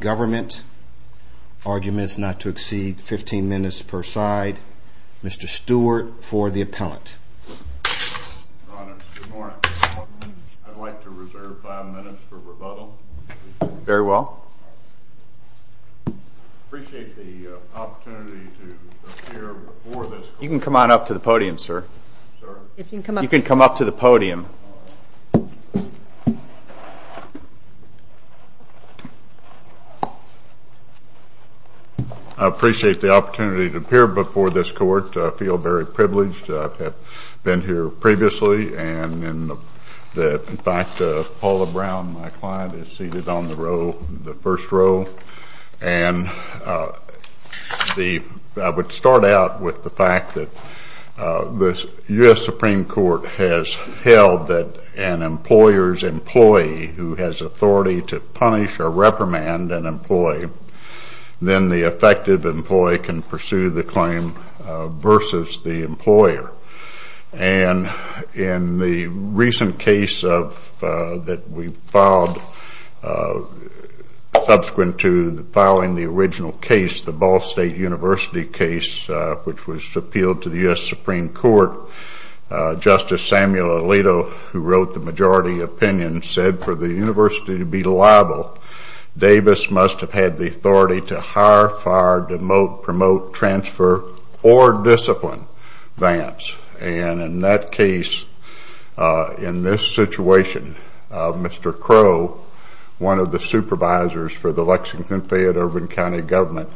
Government. Arguments not to exceed 15 minutes per side. Mr. Stewart for the appellant. Good morning. I'd like to reserve five minutes for rebuttal. Very well. Appreciate the opportunity to be here. Thank you. Thank you, Mr. Stewart. You can come up to the podium, sir. You can come up to the podium. I appreciate the opportunity to appear before this court. I feel very privileged. I've been here previously. In fact, Paula Brown, my client, is seated on the row, the first row. And the I would start out with the fact that the U.S. Supreme Court has held that an employer's employee who has authority to punish or reprimand an employee, then the effective employee can pursue the claim versus the employer. And in the recent case that we filed subsequent to filing the original case, the Ball State University case, which was appealed to the U.S. Supreme Court, Justice Samuel Alito, who wrote the majority opinion, said for the university to be liable, Davis must have had the authority to hire, fire, demote, promote, transfer, or discipline Vance. And in that case, in this situation, Mr. Crow, one of the supervisors for the Lexington Fayette Urban County Government,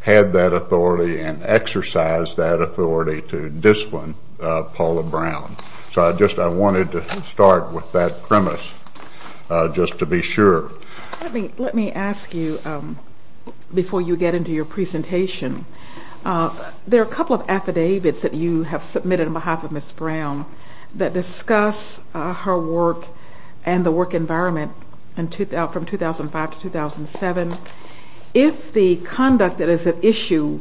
had that authority and exercised that authority to discipline Paula Brown. So I just wanted to start with that premise, just to be sure. Let me ask you, before you get into your presentation, there are a couple of affidavits that you have submitted on behalf of Ms. Brown that discuss her work and the work environment from 2005 to 2007. If the conduct that is at issue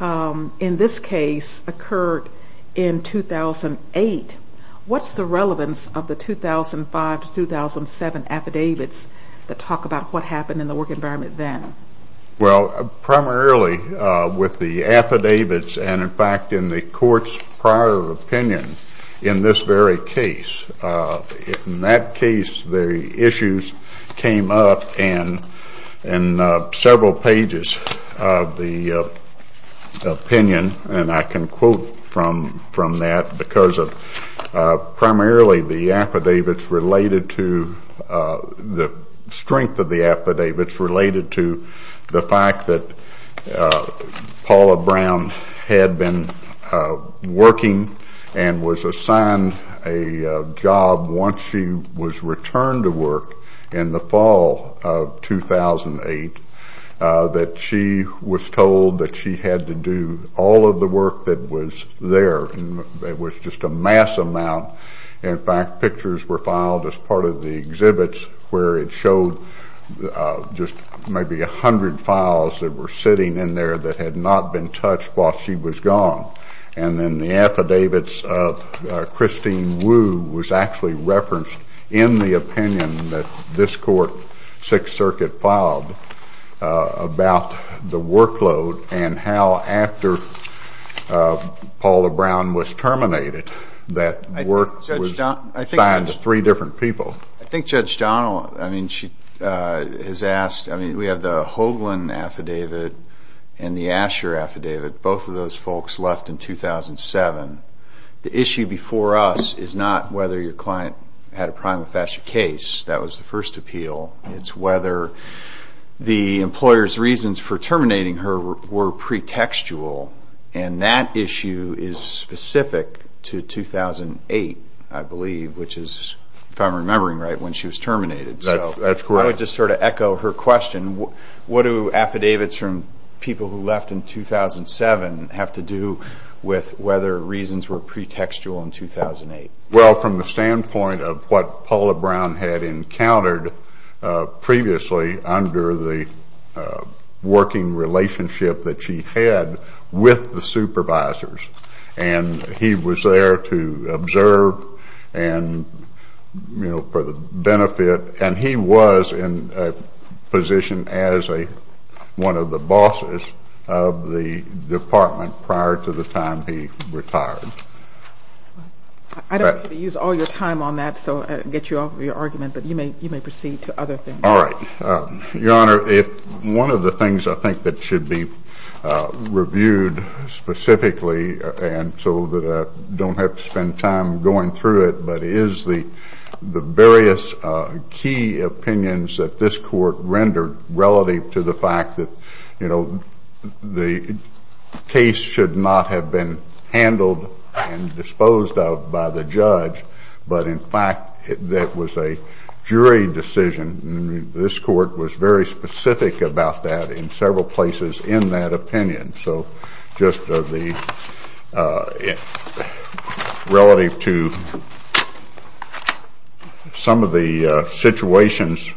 in this case occurred in 2008, what's the relevance of the 2005 to 2007 affidavits? The talk about what happened in the work environment then. It's related to the fact that Paula Brown had been working and was assigned a job once she was returned to work in the fall of 2008, that she was told that she had to do all of the work that was there. It was just a mass amount. In fact, pictures were filed as part of the exhibits where it showed just maybe a hundred files that were sitting in there that had not been touched while she was gone. And then the affidavits of Christine Wu was actually referenced in the opinion that this court, Sixth Circuit, filed about the workload and how, after Paula Brown was terminated, that work was assigned to three different people. We have the Hoagland affidavit and the Asher affidavit. Both of those folks left in 2007. The issue before us is not whether your client had a prima facie case. That was the first appeal. It's whether the employer's reasons for terminating her were pretextual. And that issue is specific to 2008, I believe, which is, if I'm remembering right, when she was terminated. That's correct. I would just sort of echo her question. What do affidavits from people who left in 2007 have to do with whether reasons were pretextual in 2008? Well, from the standpoint of what Paula Brown had encountered previously under the working relationship that she had with the supervisors, and he was there to observe and, you know, for the benefit, and he was in a position as one of the bosses of the department prior to the time he retired. I don't want to use all your time on that, so I'll get you off of your argument, but you may proceed to other things. All right. Your Honor, if one of the things I think that should be reviewed specifically, and so that I don't have to spend time going through it, but is the various key opinions that this court rendered relative to the fact that, you know, the case should not have been handled and disposed of by the judge, but, in fact, that was a jury decision. And this court was very specific about that in several places in that opinion. So just the relative to some of the situations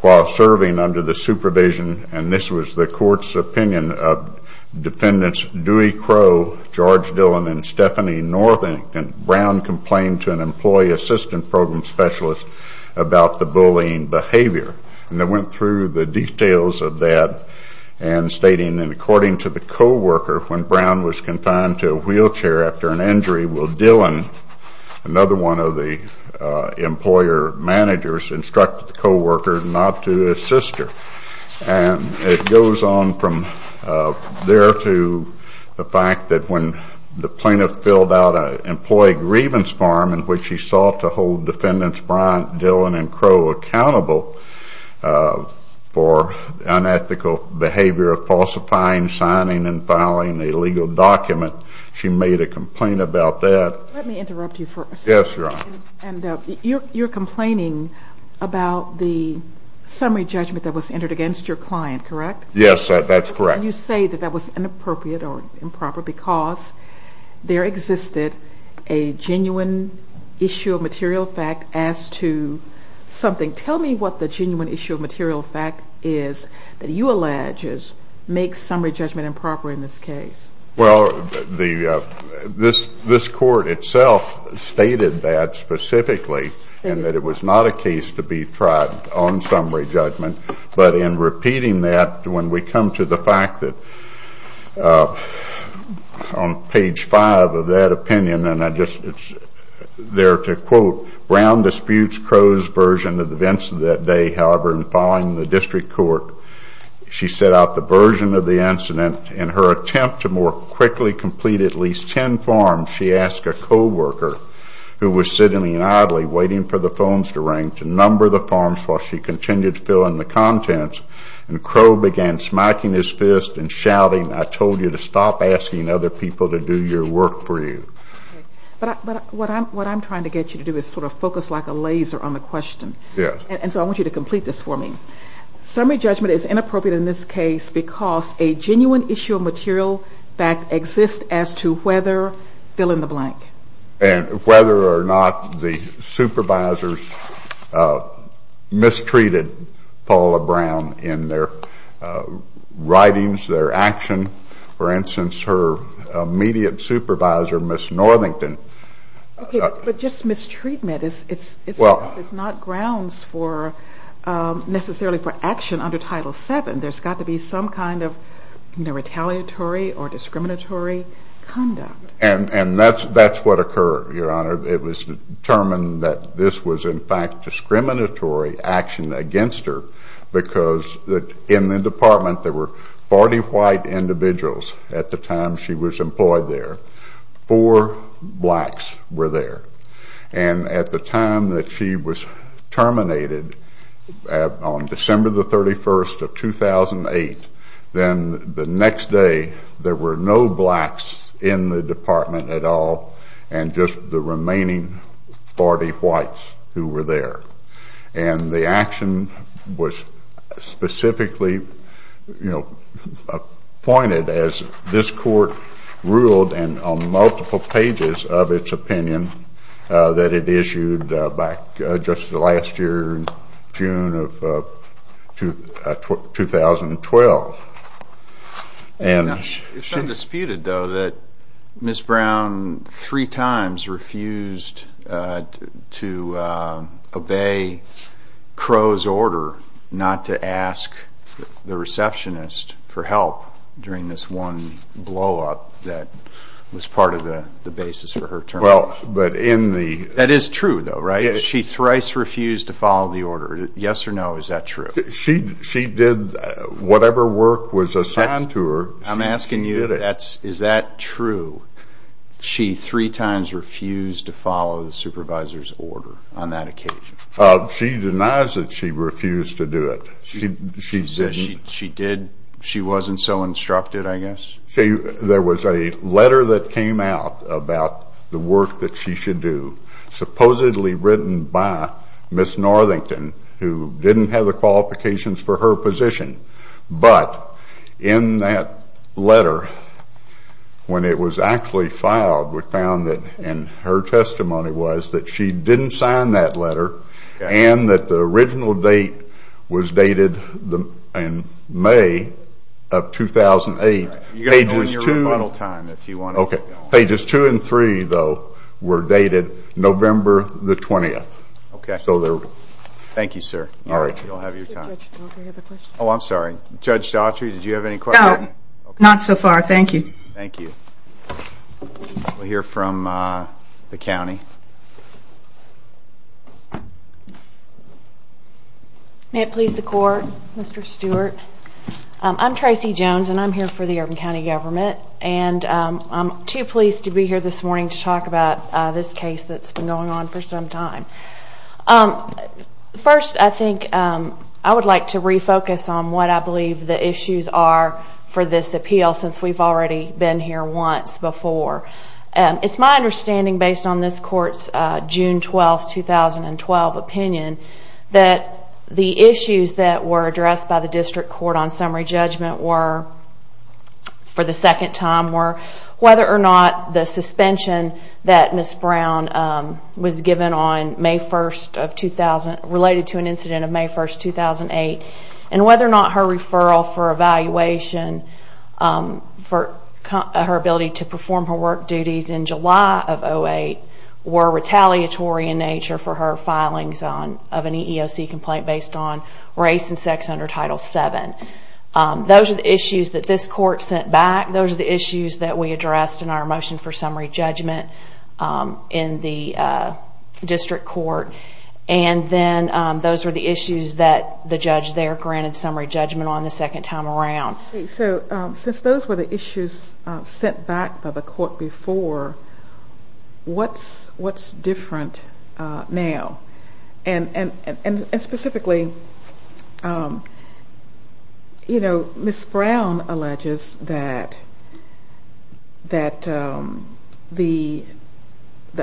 while serving under the supervision, and this was the court's opinion of defendants Dewey Crowe, George Dillon, and Stephanie Northington, Brown complained to an employee assistant program specialist about the bullying behavior. And they went through the details of that and stating that, according to the co-worker, when Brown was confined to a wheelchair after an injury, well, Dillon, another one of the employer managers, instructed the co-worker not to assist her. And it goes on from there to the fact that when the plaintiff filled out an employee grievance form in which he sought to hold defendants Brown, Dillon, and Crowe accountable for unethical behavior of falsifying, signing, and filing a legal document, she made a complaint about that. Let me interrupt you first. Yes, Your Honor. And you're complaining about the summary judgment that was entered against your client, correct? Yes, that's correct. And you say that that was inappropriate or improper because there existed a genuine issue of material fact as to something. Tell me what the genuine issue of material fact is that you allege makes summary judgment improper in this case. Well, this court itself stated that specifically and that it was not a case to be tried on summary judgment. But in repeating that, when we come to the fact that on page five of that opinion, and I just there to quote, Brown disputes Crowe's version of the events of that day. However, in filing the district court, she set out the version of the incident. In her attempt to more quickly complete at least ten forms, she asked a co-worker who was sitting idly waiting for the phones to ring to number the forms while she continued to fill in the contents. And Crowe began smacking his fist and shouting, I told you to stop asking other people to do your work for you. But what I'm trying to get you to do is sort of focus like a laser on the question. Yes. And so I want you to complete this for me. Summary judgment is inappropriate in this case because a genuine issue of material fact exists as to whether fill in the blank. And whether or not the supervisors mistreated Paula Brown in their writings, their action. For instance, her immediate supervisor, Ms. Northington. But just mistreatment is not grounds for necessarily for action under Title VII. There's got to be some kind of retaliatory or discriminatory conduct. And that's what occurred, Your Honor. It was determined that this was in fact discriminatory action against her because in the department there were 40 white individuals at the time she was employed there. Four blacks were there. And at the time that she was terminated on December the 31st of 2008, then the next day there were no blacks in the department at all and just the remaining 40 whites who were there. And the action was specifically, you know, appointed as this court ruled and on multiple pages of its opinion that it issued back just last year in June of 2012. It's undisputed, though, that Ms. Brown three times refused to obey Crow's order not to ask the receptionist for help during this one blow-up that was part of the basis for her termination. That is true, though, right? She thrice refused to follow the order. Yes or no, is that true? She did whatever work was assigned to her. I'm asking you, is that true? She three times refused to follow the supervisor's order on that occasion? She denies that she refused to do it. She didn't? She wasn't so instructed, I guess? There was a letter that came out about the work that she should do, supposedly written by Ms. Northington, who didn't have the qualifications for her position. But in that letter, when it was actually filed, we found that in her testimony was that she didn't sign that letter and that the original date was dated in May of 2008. Pages two and three, though, were dated November the 20th. Thank you, sir. You all have your time. Judge Daughtry has a question. Oh, I'm sorry. Judge Daughtry, did you have any questions? No, not so far. Thank you. Thank you. We'll hear from the county. May it please the Court, Mr. Stewart. I'm Tracy Jones, and I'm here for the Urban County Government. And I'm too pleased to be here this morning to talk about this case that's been going on for some time. First, I think I would like to refocus on what I believe the issues are for this appeal, since we've already been here once before. It's my understanding, based on this Court's June 12, 2012 opinion, that the issues that were addressed by the District Court on summary judgment were, for the second time, were whether or not the suspension that Ms. Brown was given on May 1, related to an incident of May 1, 2008, and whether or not her referral for evaluation for her ability to perform her work duties in July of 2008 were retaliatory in nature for her filings of an EEOC complaint based on race and sex under Title VII. Those are the issues that this Court sent back. Those are the issues that we addressed in our motion for summary judgment in the District Court. And then those were the issues that the judge there granted summary judgment on the second time around. So since those were the issues sent back by the Court before, what's different now? And specifically, Ms. Brown alleges that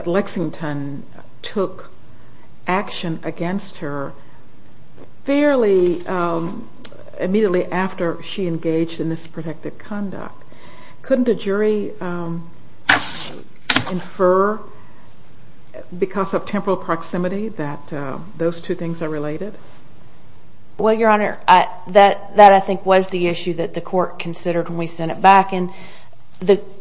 Lexington took action against her fairly immediately after she engaged in this protective conduct. Couldn't a jury infer, because of temporal proximity, that those two things are related? Well, Your Honor, that I think was the issue that the Court considered when we sent it back. And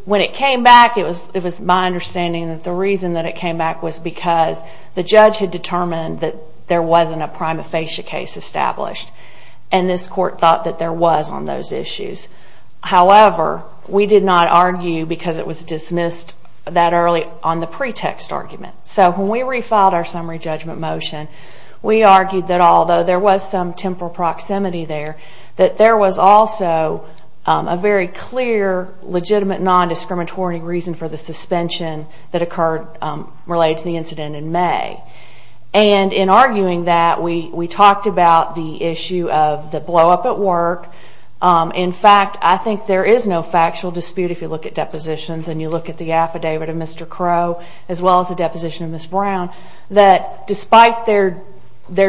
when it came back, it was my understanding that the reason that it came back was because the judge had determined that there wasn't a prima facie case established. And this Court thought that there was on those issues. However, we did not argue, because it was dismissed that early, on the pretext argument. So when we refiled our summary judgment motion, we argued that although there was some temporal proximity there, that there was also a very clear, legitimate, non-discriminatory reason for the suspension that occurred related to the incident in May. And in arguing that, we talked about the issue of the blow-up at work. In fact, I think there is no factual dispute, if you look at depositions and you look at the affidavit of Mr. Crow, as well as the deposition of Ms. Brown, that despite their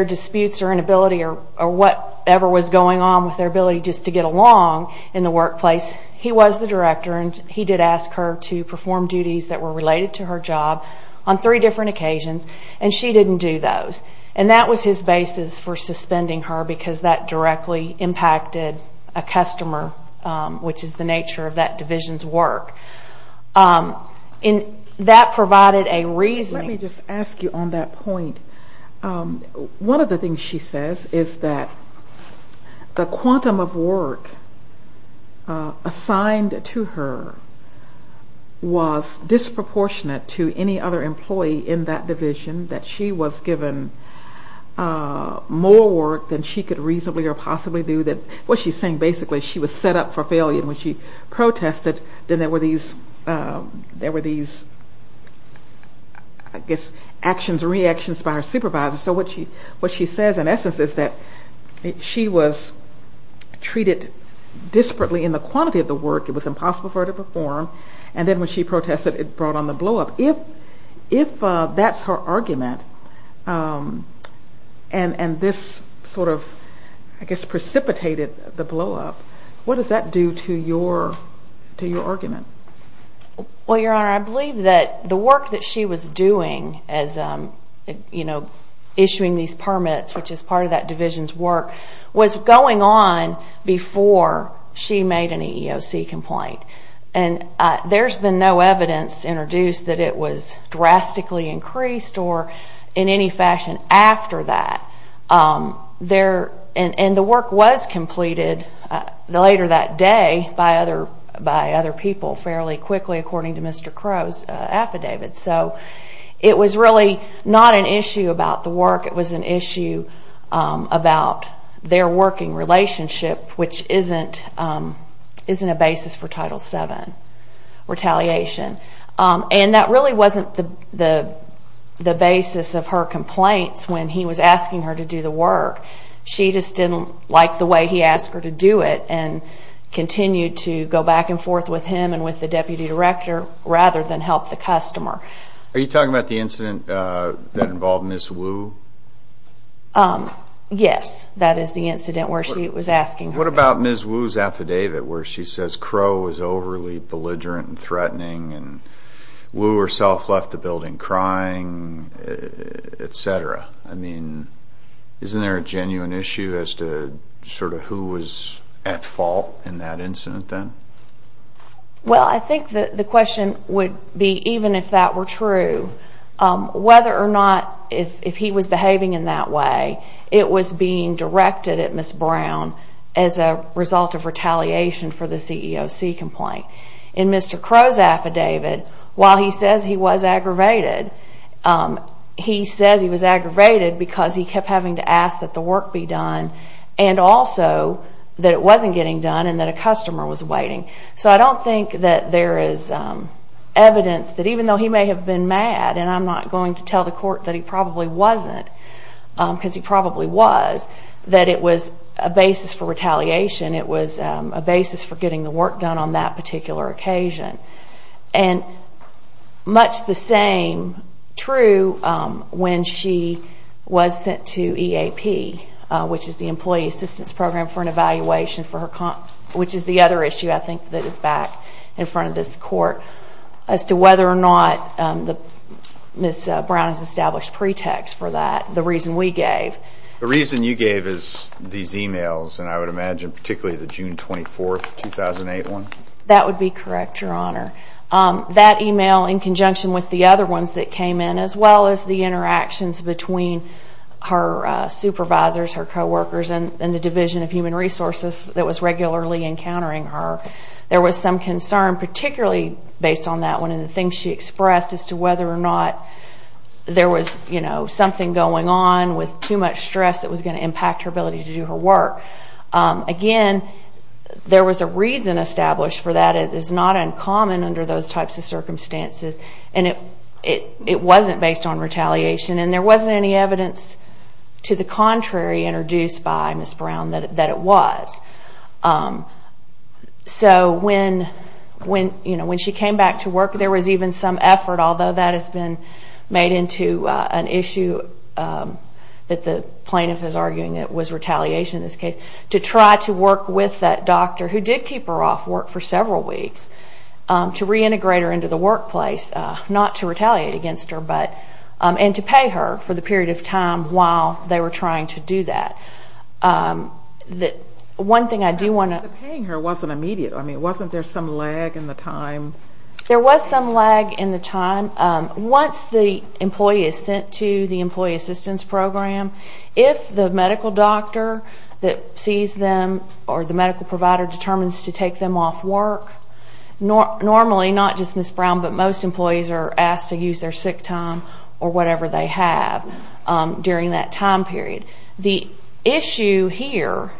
disputes or inability or whatever was going on with their ability just to get along in the workplace, he was the director and he did ask her to perform duties that were related to her job on three different occasions, and she didn't do those. And that was his basis for suspending her, because that directly impacted a customer, which is the nature of that division's work. And that provided a reasoning. Let me just ask you on that point. One of the things she says is that the quantum of work assigned to her was disproportionate to any other employee in that division that she was given more work than she could reasonably or possibly do. What she's saying, basically, is she was set up for failure. When she protested, then there were these actions, reactions by her supervisor. So what she says, in essence, is that she was treated disparately in the quantity of the work. It was impossible for her to perform. And then when she protested, it brought on the blow-up. If that's her argument, and this sort of, I guess, precipitated the blow-up, what does that do to your argument? Well, Your Honor, I believe that the work that she was doing as issuing these permits, which is part of that division's work, was going on before she made an EEOC complaint. And there's been no evidence introduced that it was drastically increased or in any fashion after that. And the work was completed later that day by other people fairly quickly, according to Mr. Crowe's affidavit. So it was really not an issue about the work. It was an issue about their working relationship, which isn't a basis for Title VII retaliation. And that really wasn't the basis of her complaints when he was asking her to do the work. She just didn't like the way he asked her to do it and continued to go back and forth with him and with the deputy director rather than help the customer. Are you talking about the incident that involved Ms. Wu? Yes, that is the incident where she was asking her to do it. What about Ms. Wu's affidavit where she says Crowe was overly belligerent and threatening and Wu herself left the building crying, et cetera? I mean, isn't there a genuine issue as to sort of who was at fault in that incident then? Well, I think the question would be even if that were true, whether or not if he was behaving in that way, it was being directed at Ms. Brown as a result of retaliation for the CEOC complaint. In Mr. Crowe's affidavit, while he says he was aggravated, he says he was aggravated because he kept having to ask that the work be done and also that it wasn't getting done and that a customer was waiting. So I don't think that there is evidence that even though he may have been mad, and I'm not going to tell the court that he probably wasn't because he probably was, that it was a basis for retaliation. It was a basis for getting the work done on that particular occasion. And much the same true when she was sent to EAP, which is the Employee Assistance Program for an evaluation for her comp, which is the other issue I think that is back in front of this court, as to whether or not Ms. Brown has established pretext for that, the reason we gave. The reason you gave is these e-mails, and I would imagine particularly the June 24, 2008 one? That would be correct, Your Honor. That e-mail in conjunction with the other ones that came in, as well as the interactions between her supervisors, her co-workers, and the Division of Human Resources that was regularly encountering her, there was some concern particularly based on that one and the things she expressed as to whether or not there was something going on with too much stress that was going to impact her ability to do her work. Again, there was a reason established for that. It is not uncommon under those types of circumstances. And it wasn't based on retaliation, and there wasn't any evidence to the contrary introduced by Ms. Brown that it was. So when she came back to work, there was even some effort, although that has been made into an issue that the plaintiff is arguing it was retaliation. I would imagine in this case to try to work with that doctor who did keep her off work for several weeks to reintegrate her into the workplace, not to retaliate against her, and to pay her for the period of time while they were trying to do that. One thing I do want to... But paying her wasn't immediate. I mean, wasn't there some lag in the time? There was some lag in the time. Once the employee is sent to the Employee Assistance Program, if the medical doctor that sees them or the medical provider determines to take them off work, normally, not just Ms. Brown, but most employees are asked to use their sick time or whatever they have during that time period. The issue here,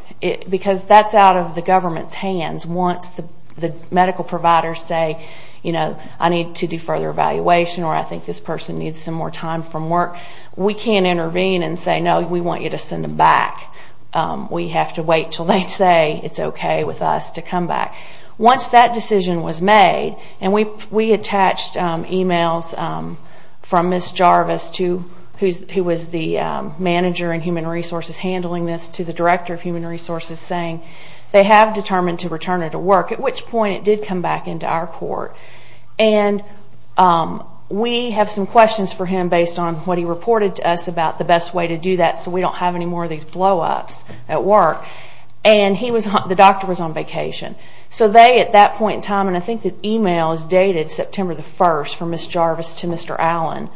because that's out of the government's hands, once the medical providers say, you know, I need to do further evaluation or I think this person needs some more time from work, we can't intervene and say, no, we want you to send them back. We have to wait until they say it's okay with us to come back. Once that decision was made, and we attached emails from Ms. Jarvis, who was the manager in Human Resources handling this, to the director of Human Resources saying they have determined to return her to work, at which point it did come back into our court. And we have some questions for him based on what he reported to us about the best way to do that so we don't have any more of these blow-ups at work. And the doctor was on vacation. So they, at that point in time, and I think the email is dated September 1st, from Ms. Jarvis to Mr. Allen,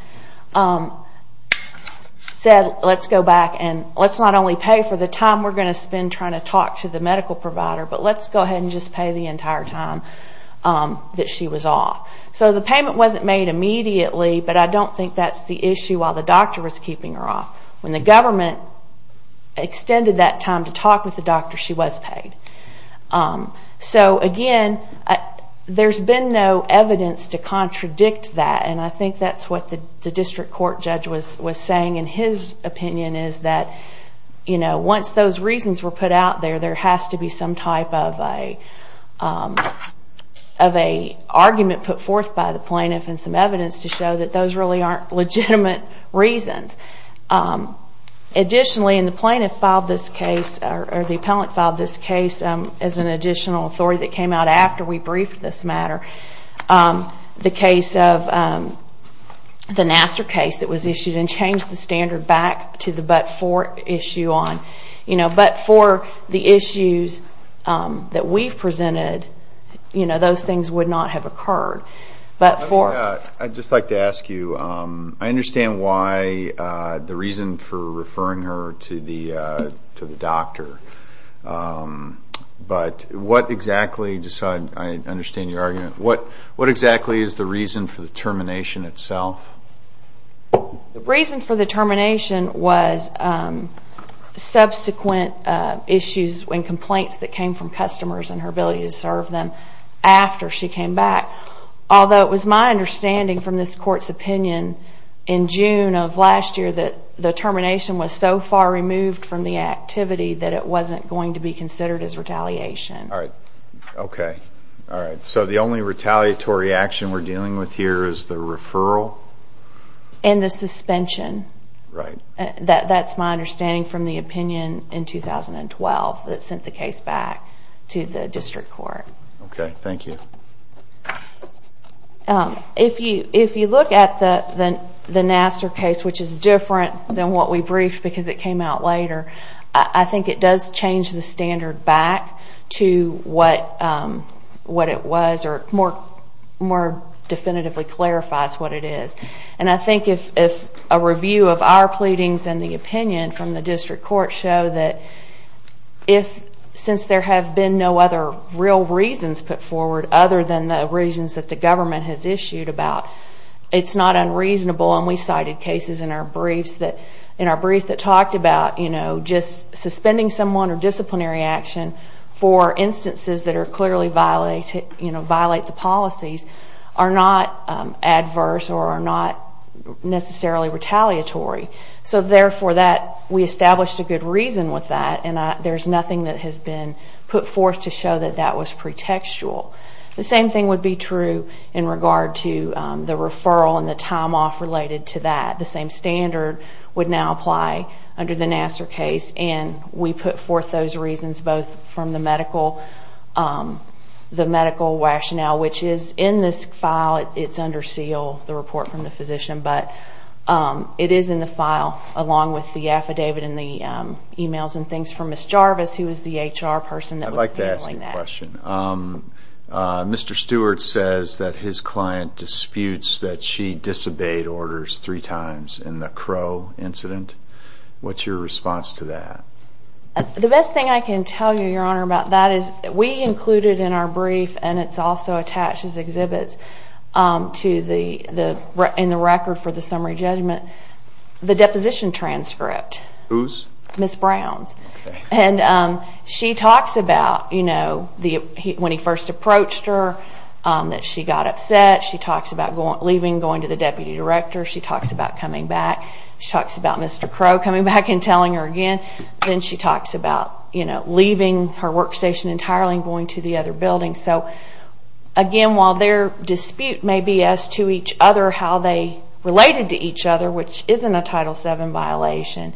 said, let's go back and let's not only pay for the time we're going to spend trying to talk to the medical provider, but let's go ahead and just pay the entire time that she was off. So the payment wasn't made immediately, but I don't think that's the issue while the doctor was keeping her off. When the government extended that time to talk with the doctor, she was paid. So, again, there's been no evidence to contradict that, and I think that's what the district court judge was saying in his opinion, is that once those reasons were put out there, there has to be some type of an argument put forth by the plaintiff and some evidence to show that those really aren't legitimate reasons. Additionally, and the plaintiff filed this case, or the appellant filed this case, as an additional authority that came out after we briefed this matter, the case of the Nassar case that was issued and changed the standard back to the but-for issue on. But for the issues that we've presented, those things would not have occurred. I'd just like to ask you, I understand why the reason for referring her to the doctor, but what exactly, just so I understand your argument, what exactly is the reason for the termination itself? The reason for the termination was subsequent issues and complaints that came from customers and her ability to serve them after she came back. Although it was my understanding from this court's opinion in June of last year that the termination was so far removed from the activity that it wasn't going to be considered as retaliation. All right. Okay. All right. So the only retaliatory action we're dealing with here is the referral? And the suspension. Right. That's my understanding from the opinion in 2012 that sent the case back to the district court. Okay. Thank you. If you look at the Nassar case, which is different than what we briefed because it came out later, I think it does change the standard back to what it was or more definitively clarifies what it is. And I think if a review of our pleadings and the opinion from the district court show that since there have been no other real reasons put forward other than the reasons that the government has issued about it's not unreasonable, and we cited cases in our briefs that talked about just suspending someone or disciplinary action for instances that clearly violate the policies are not adverse or are not necessarily retaliatory. So therefore, we established a good reason with that and there's nothing that has been put forth to show that that was pretextual. The same thing would be true in regard to the referral and the time off related to that. The same standard would now apply under the Nassar case and we put forth those reasons both from the medical rationale, which is in this file. It's under seal, the report from the physician, but it is in the file along with the affidavit and the emails and things from Ms. Jarvis, who is the HR person that was handling that. One more question. Mr. Stewart says that his client disputes that she disobeyed orders three times in the Crow incident. What's your response to that? The best thing I can tell you, Your Honor, about that is we included in our brief, and it's also attached as exhibits in the record for the summary judgment, the deposition transcript. Whose? Ms. Brown's. She talks about when he first approached her that she got upset. She talks about leaving, going to the deputy director. She talks about coming back. She talks about Mr. Crow coming back and telling her again. Then she talks about leaving her workstation entirely and going to the other building. Again, while their dispute may be as to each other, how they related to each other, which isn't a Title VII violation,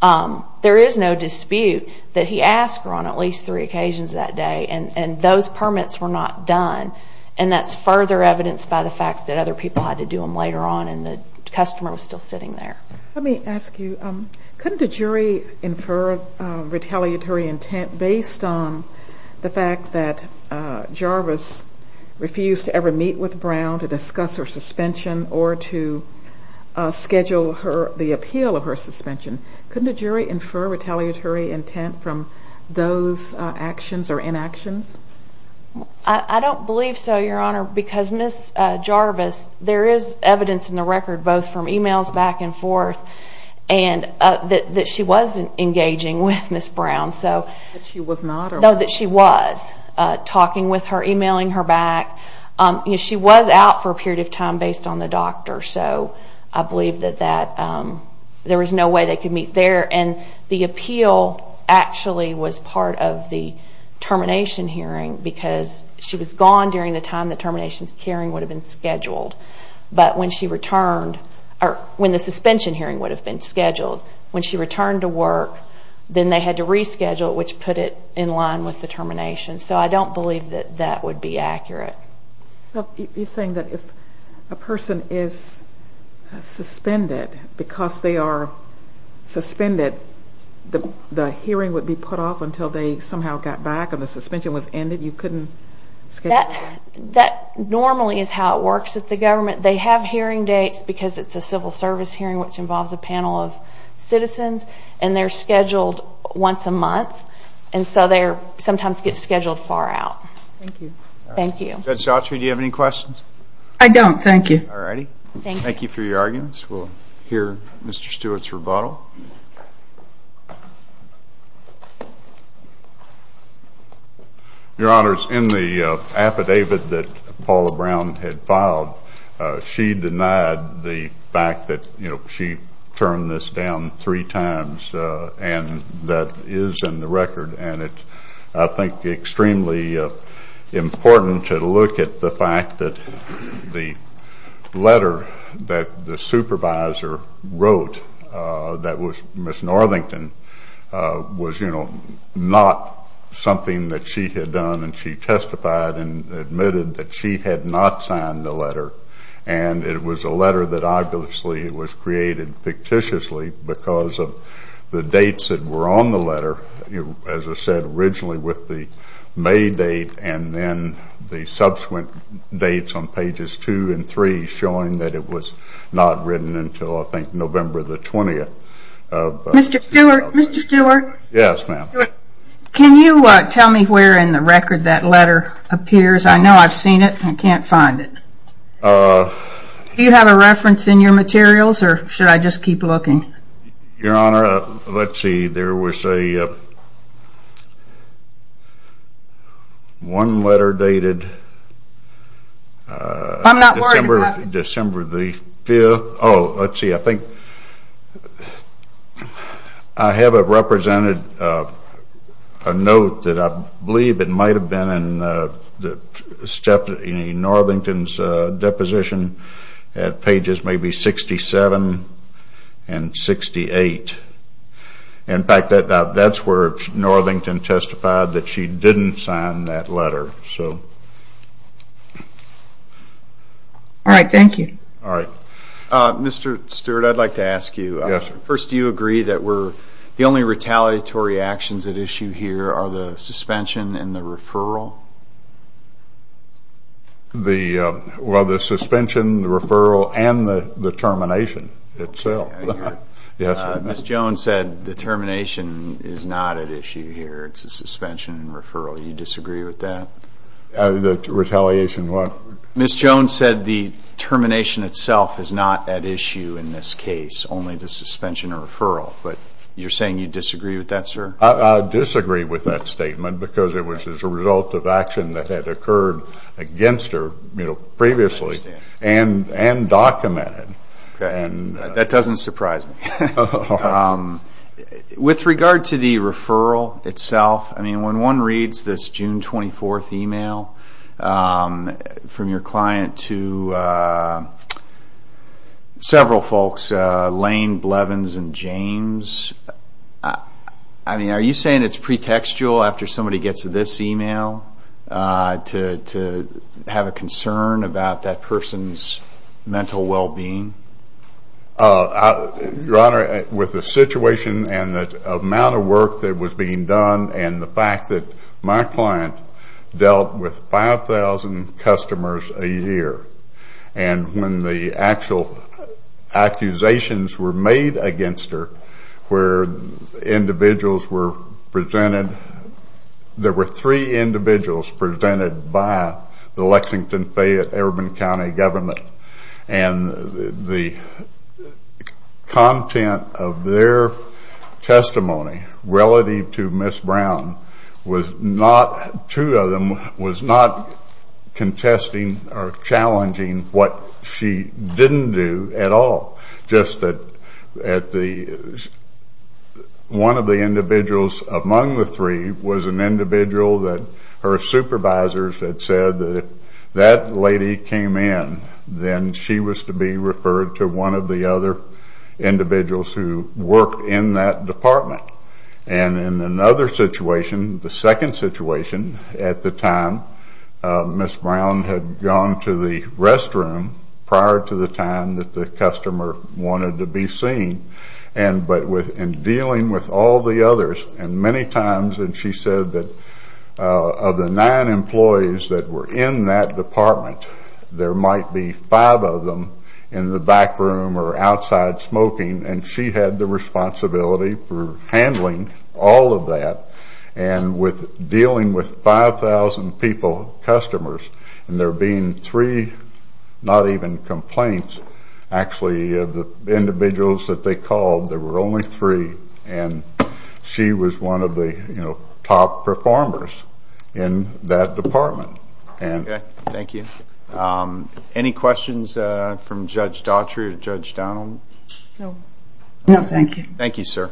there is no dispute that he asked her on at least three occasions that day, and those permits were not done. And that's further evidenced by the fact that other people had to do them later on, and the customer was still sitting there. Let me ask you, couldn't a jury infer retaliatory intent based on the fact that Jarvis refused to ever meet with Brown to discuss her suspension or to schedule the appeal of her suspension? Couldn't a jury infer retaliatory intent from those actions or inactions? I don't believe so, Your Honor, because Ms. Jarvis, there is evidence in the record, both from e-mails back and forth, that she was engaging with Ms. Brown. That she was not? No, that she was talking with her, e-mailing her back. She was out for a period of time based on the doctor, so I believe that there was no way they could meet there. And the appeal actually was part of the termination hearing because she was gone during the time the termination hearing would have been scheduled. But when she returned, or when the suspension hearing would have been scheduled, when she returned to work, then they had to reschedule it, which put it in line with the termination. So I don't believe that that would be accurate. You're saying that if a person is suspended because they are suspended, the hearing would be put off until they somehow got back and the suspension was ended? You couldn't schedule it? That normally is how it works at the government. They have hearing dates because it's a civil service hearing, which involves a panel of citizens, and they're scheduled once a month. And so they sometimes get scheduled far out. Thank you. Judge Autry, do you have any questions? I don't, thank you. All righty. Thank you for your arguments. We'll hear Mr. Stewart's rebuttal. Your Honors, in the affidavit that Paula Brown had filed, she denied the fact that she turned this down three times, and that is in the record. And it's, I think, extremely important to look at the fact that the letter that the supervisor wrote, that was Ms. Norlington, was, you know, not something that she had done. And she testified and admitted that she had not signed the letter. And it was a letter that obviously was created fictitiously because of the dates that were on the letter, as I said, originally with the May date and then the subsequent dates on pages two and three showing that it was not written until, I think, November the 20th. Mr. Stewart? Yes, ma'am. Can you tell me where in the record that letter appears? I know I've seen it. I can't find it. Do you have a reference in your materials, or should I just keep looking? Your Honor, let's see. There was a one-letter dated December the 5th. Oh, let's see. I think I have it represented, a note that I believe it might have been in Norlington's deposition at pages maybe 67 and 68. In fact, that's where Norlington testified that she didn't sign that letter. All right. Thank you. All right. Mr. Stewart, I'd like to ask you. Yes, sir. First, do you agree that the only retaliatory actions at issue here are the suspension and the referral? Well, the suspension, the referral, and the termination itself. Yes, sir. Ms. Jones said the termination is not at issue here. It's the suspension and referral. Do you disagree with that? The retaliation, what? Ms. Jones said the termination itself is not at issue in this case, only the suspension and referral. But you're saying you disagree with that, sir? I disagree with that statement because it was as a result of action that had occurred against her previously and documented. Okay. That doesn't surprise me. With regard to the referral itself, I mean, when one reads this June 24th email from your client to several folks, Lane, Blevins, and James, I mean, are you saying it's pretextual after somebody gets this email to have a concern about that person's mental well-being? Your Honor, with the situation and the amount of work that was being done and the fact that my client dealt with 5,000 customers a year, and when the actual accusations were made against her where individuals were presented, and there were three individuals presented by the Lexington-Fayette-Irvin County Government, and the content of their testimony relative to Ms. Brown was not, two of them, was not contesting or challenging what she didn't do at all. Just that one of the individuals among the three was an individual that her supervisors had said that if that lady came in, then she was to be referred to one of the other individuals who worked in that department. And in another situation, the second situation, at the time, Ms. Brown had gone to the restroom prior to the time that the customer wanted to be seen. But in dealing with all the others, and many times, and she said that of the nine employees that were in that department, there might be five of them in the back room or outside smoking, and she had the responsibility for handling all of that. And with dealing with 5,000 people, customers, and there being three, not even complaints, actually, the individuals that they called, there were only three, and she was one of the, you know, top performers in that department. Thank you. Any questions from Judge Daughtry or Judge Donald? No, thank you. Thank you, sir.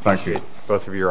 Thank you. Both of your arguments.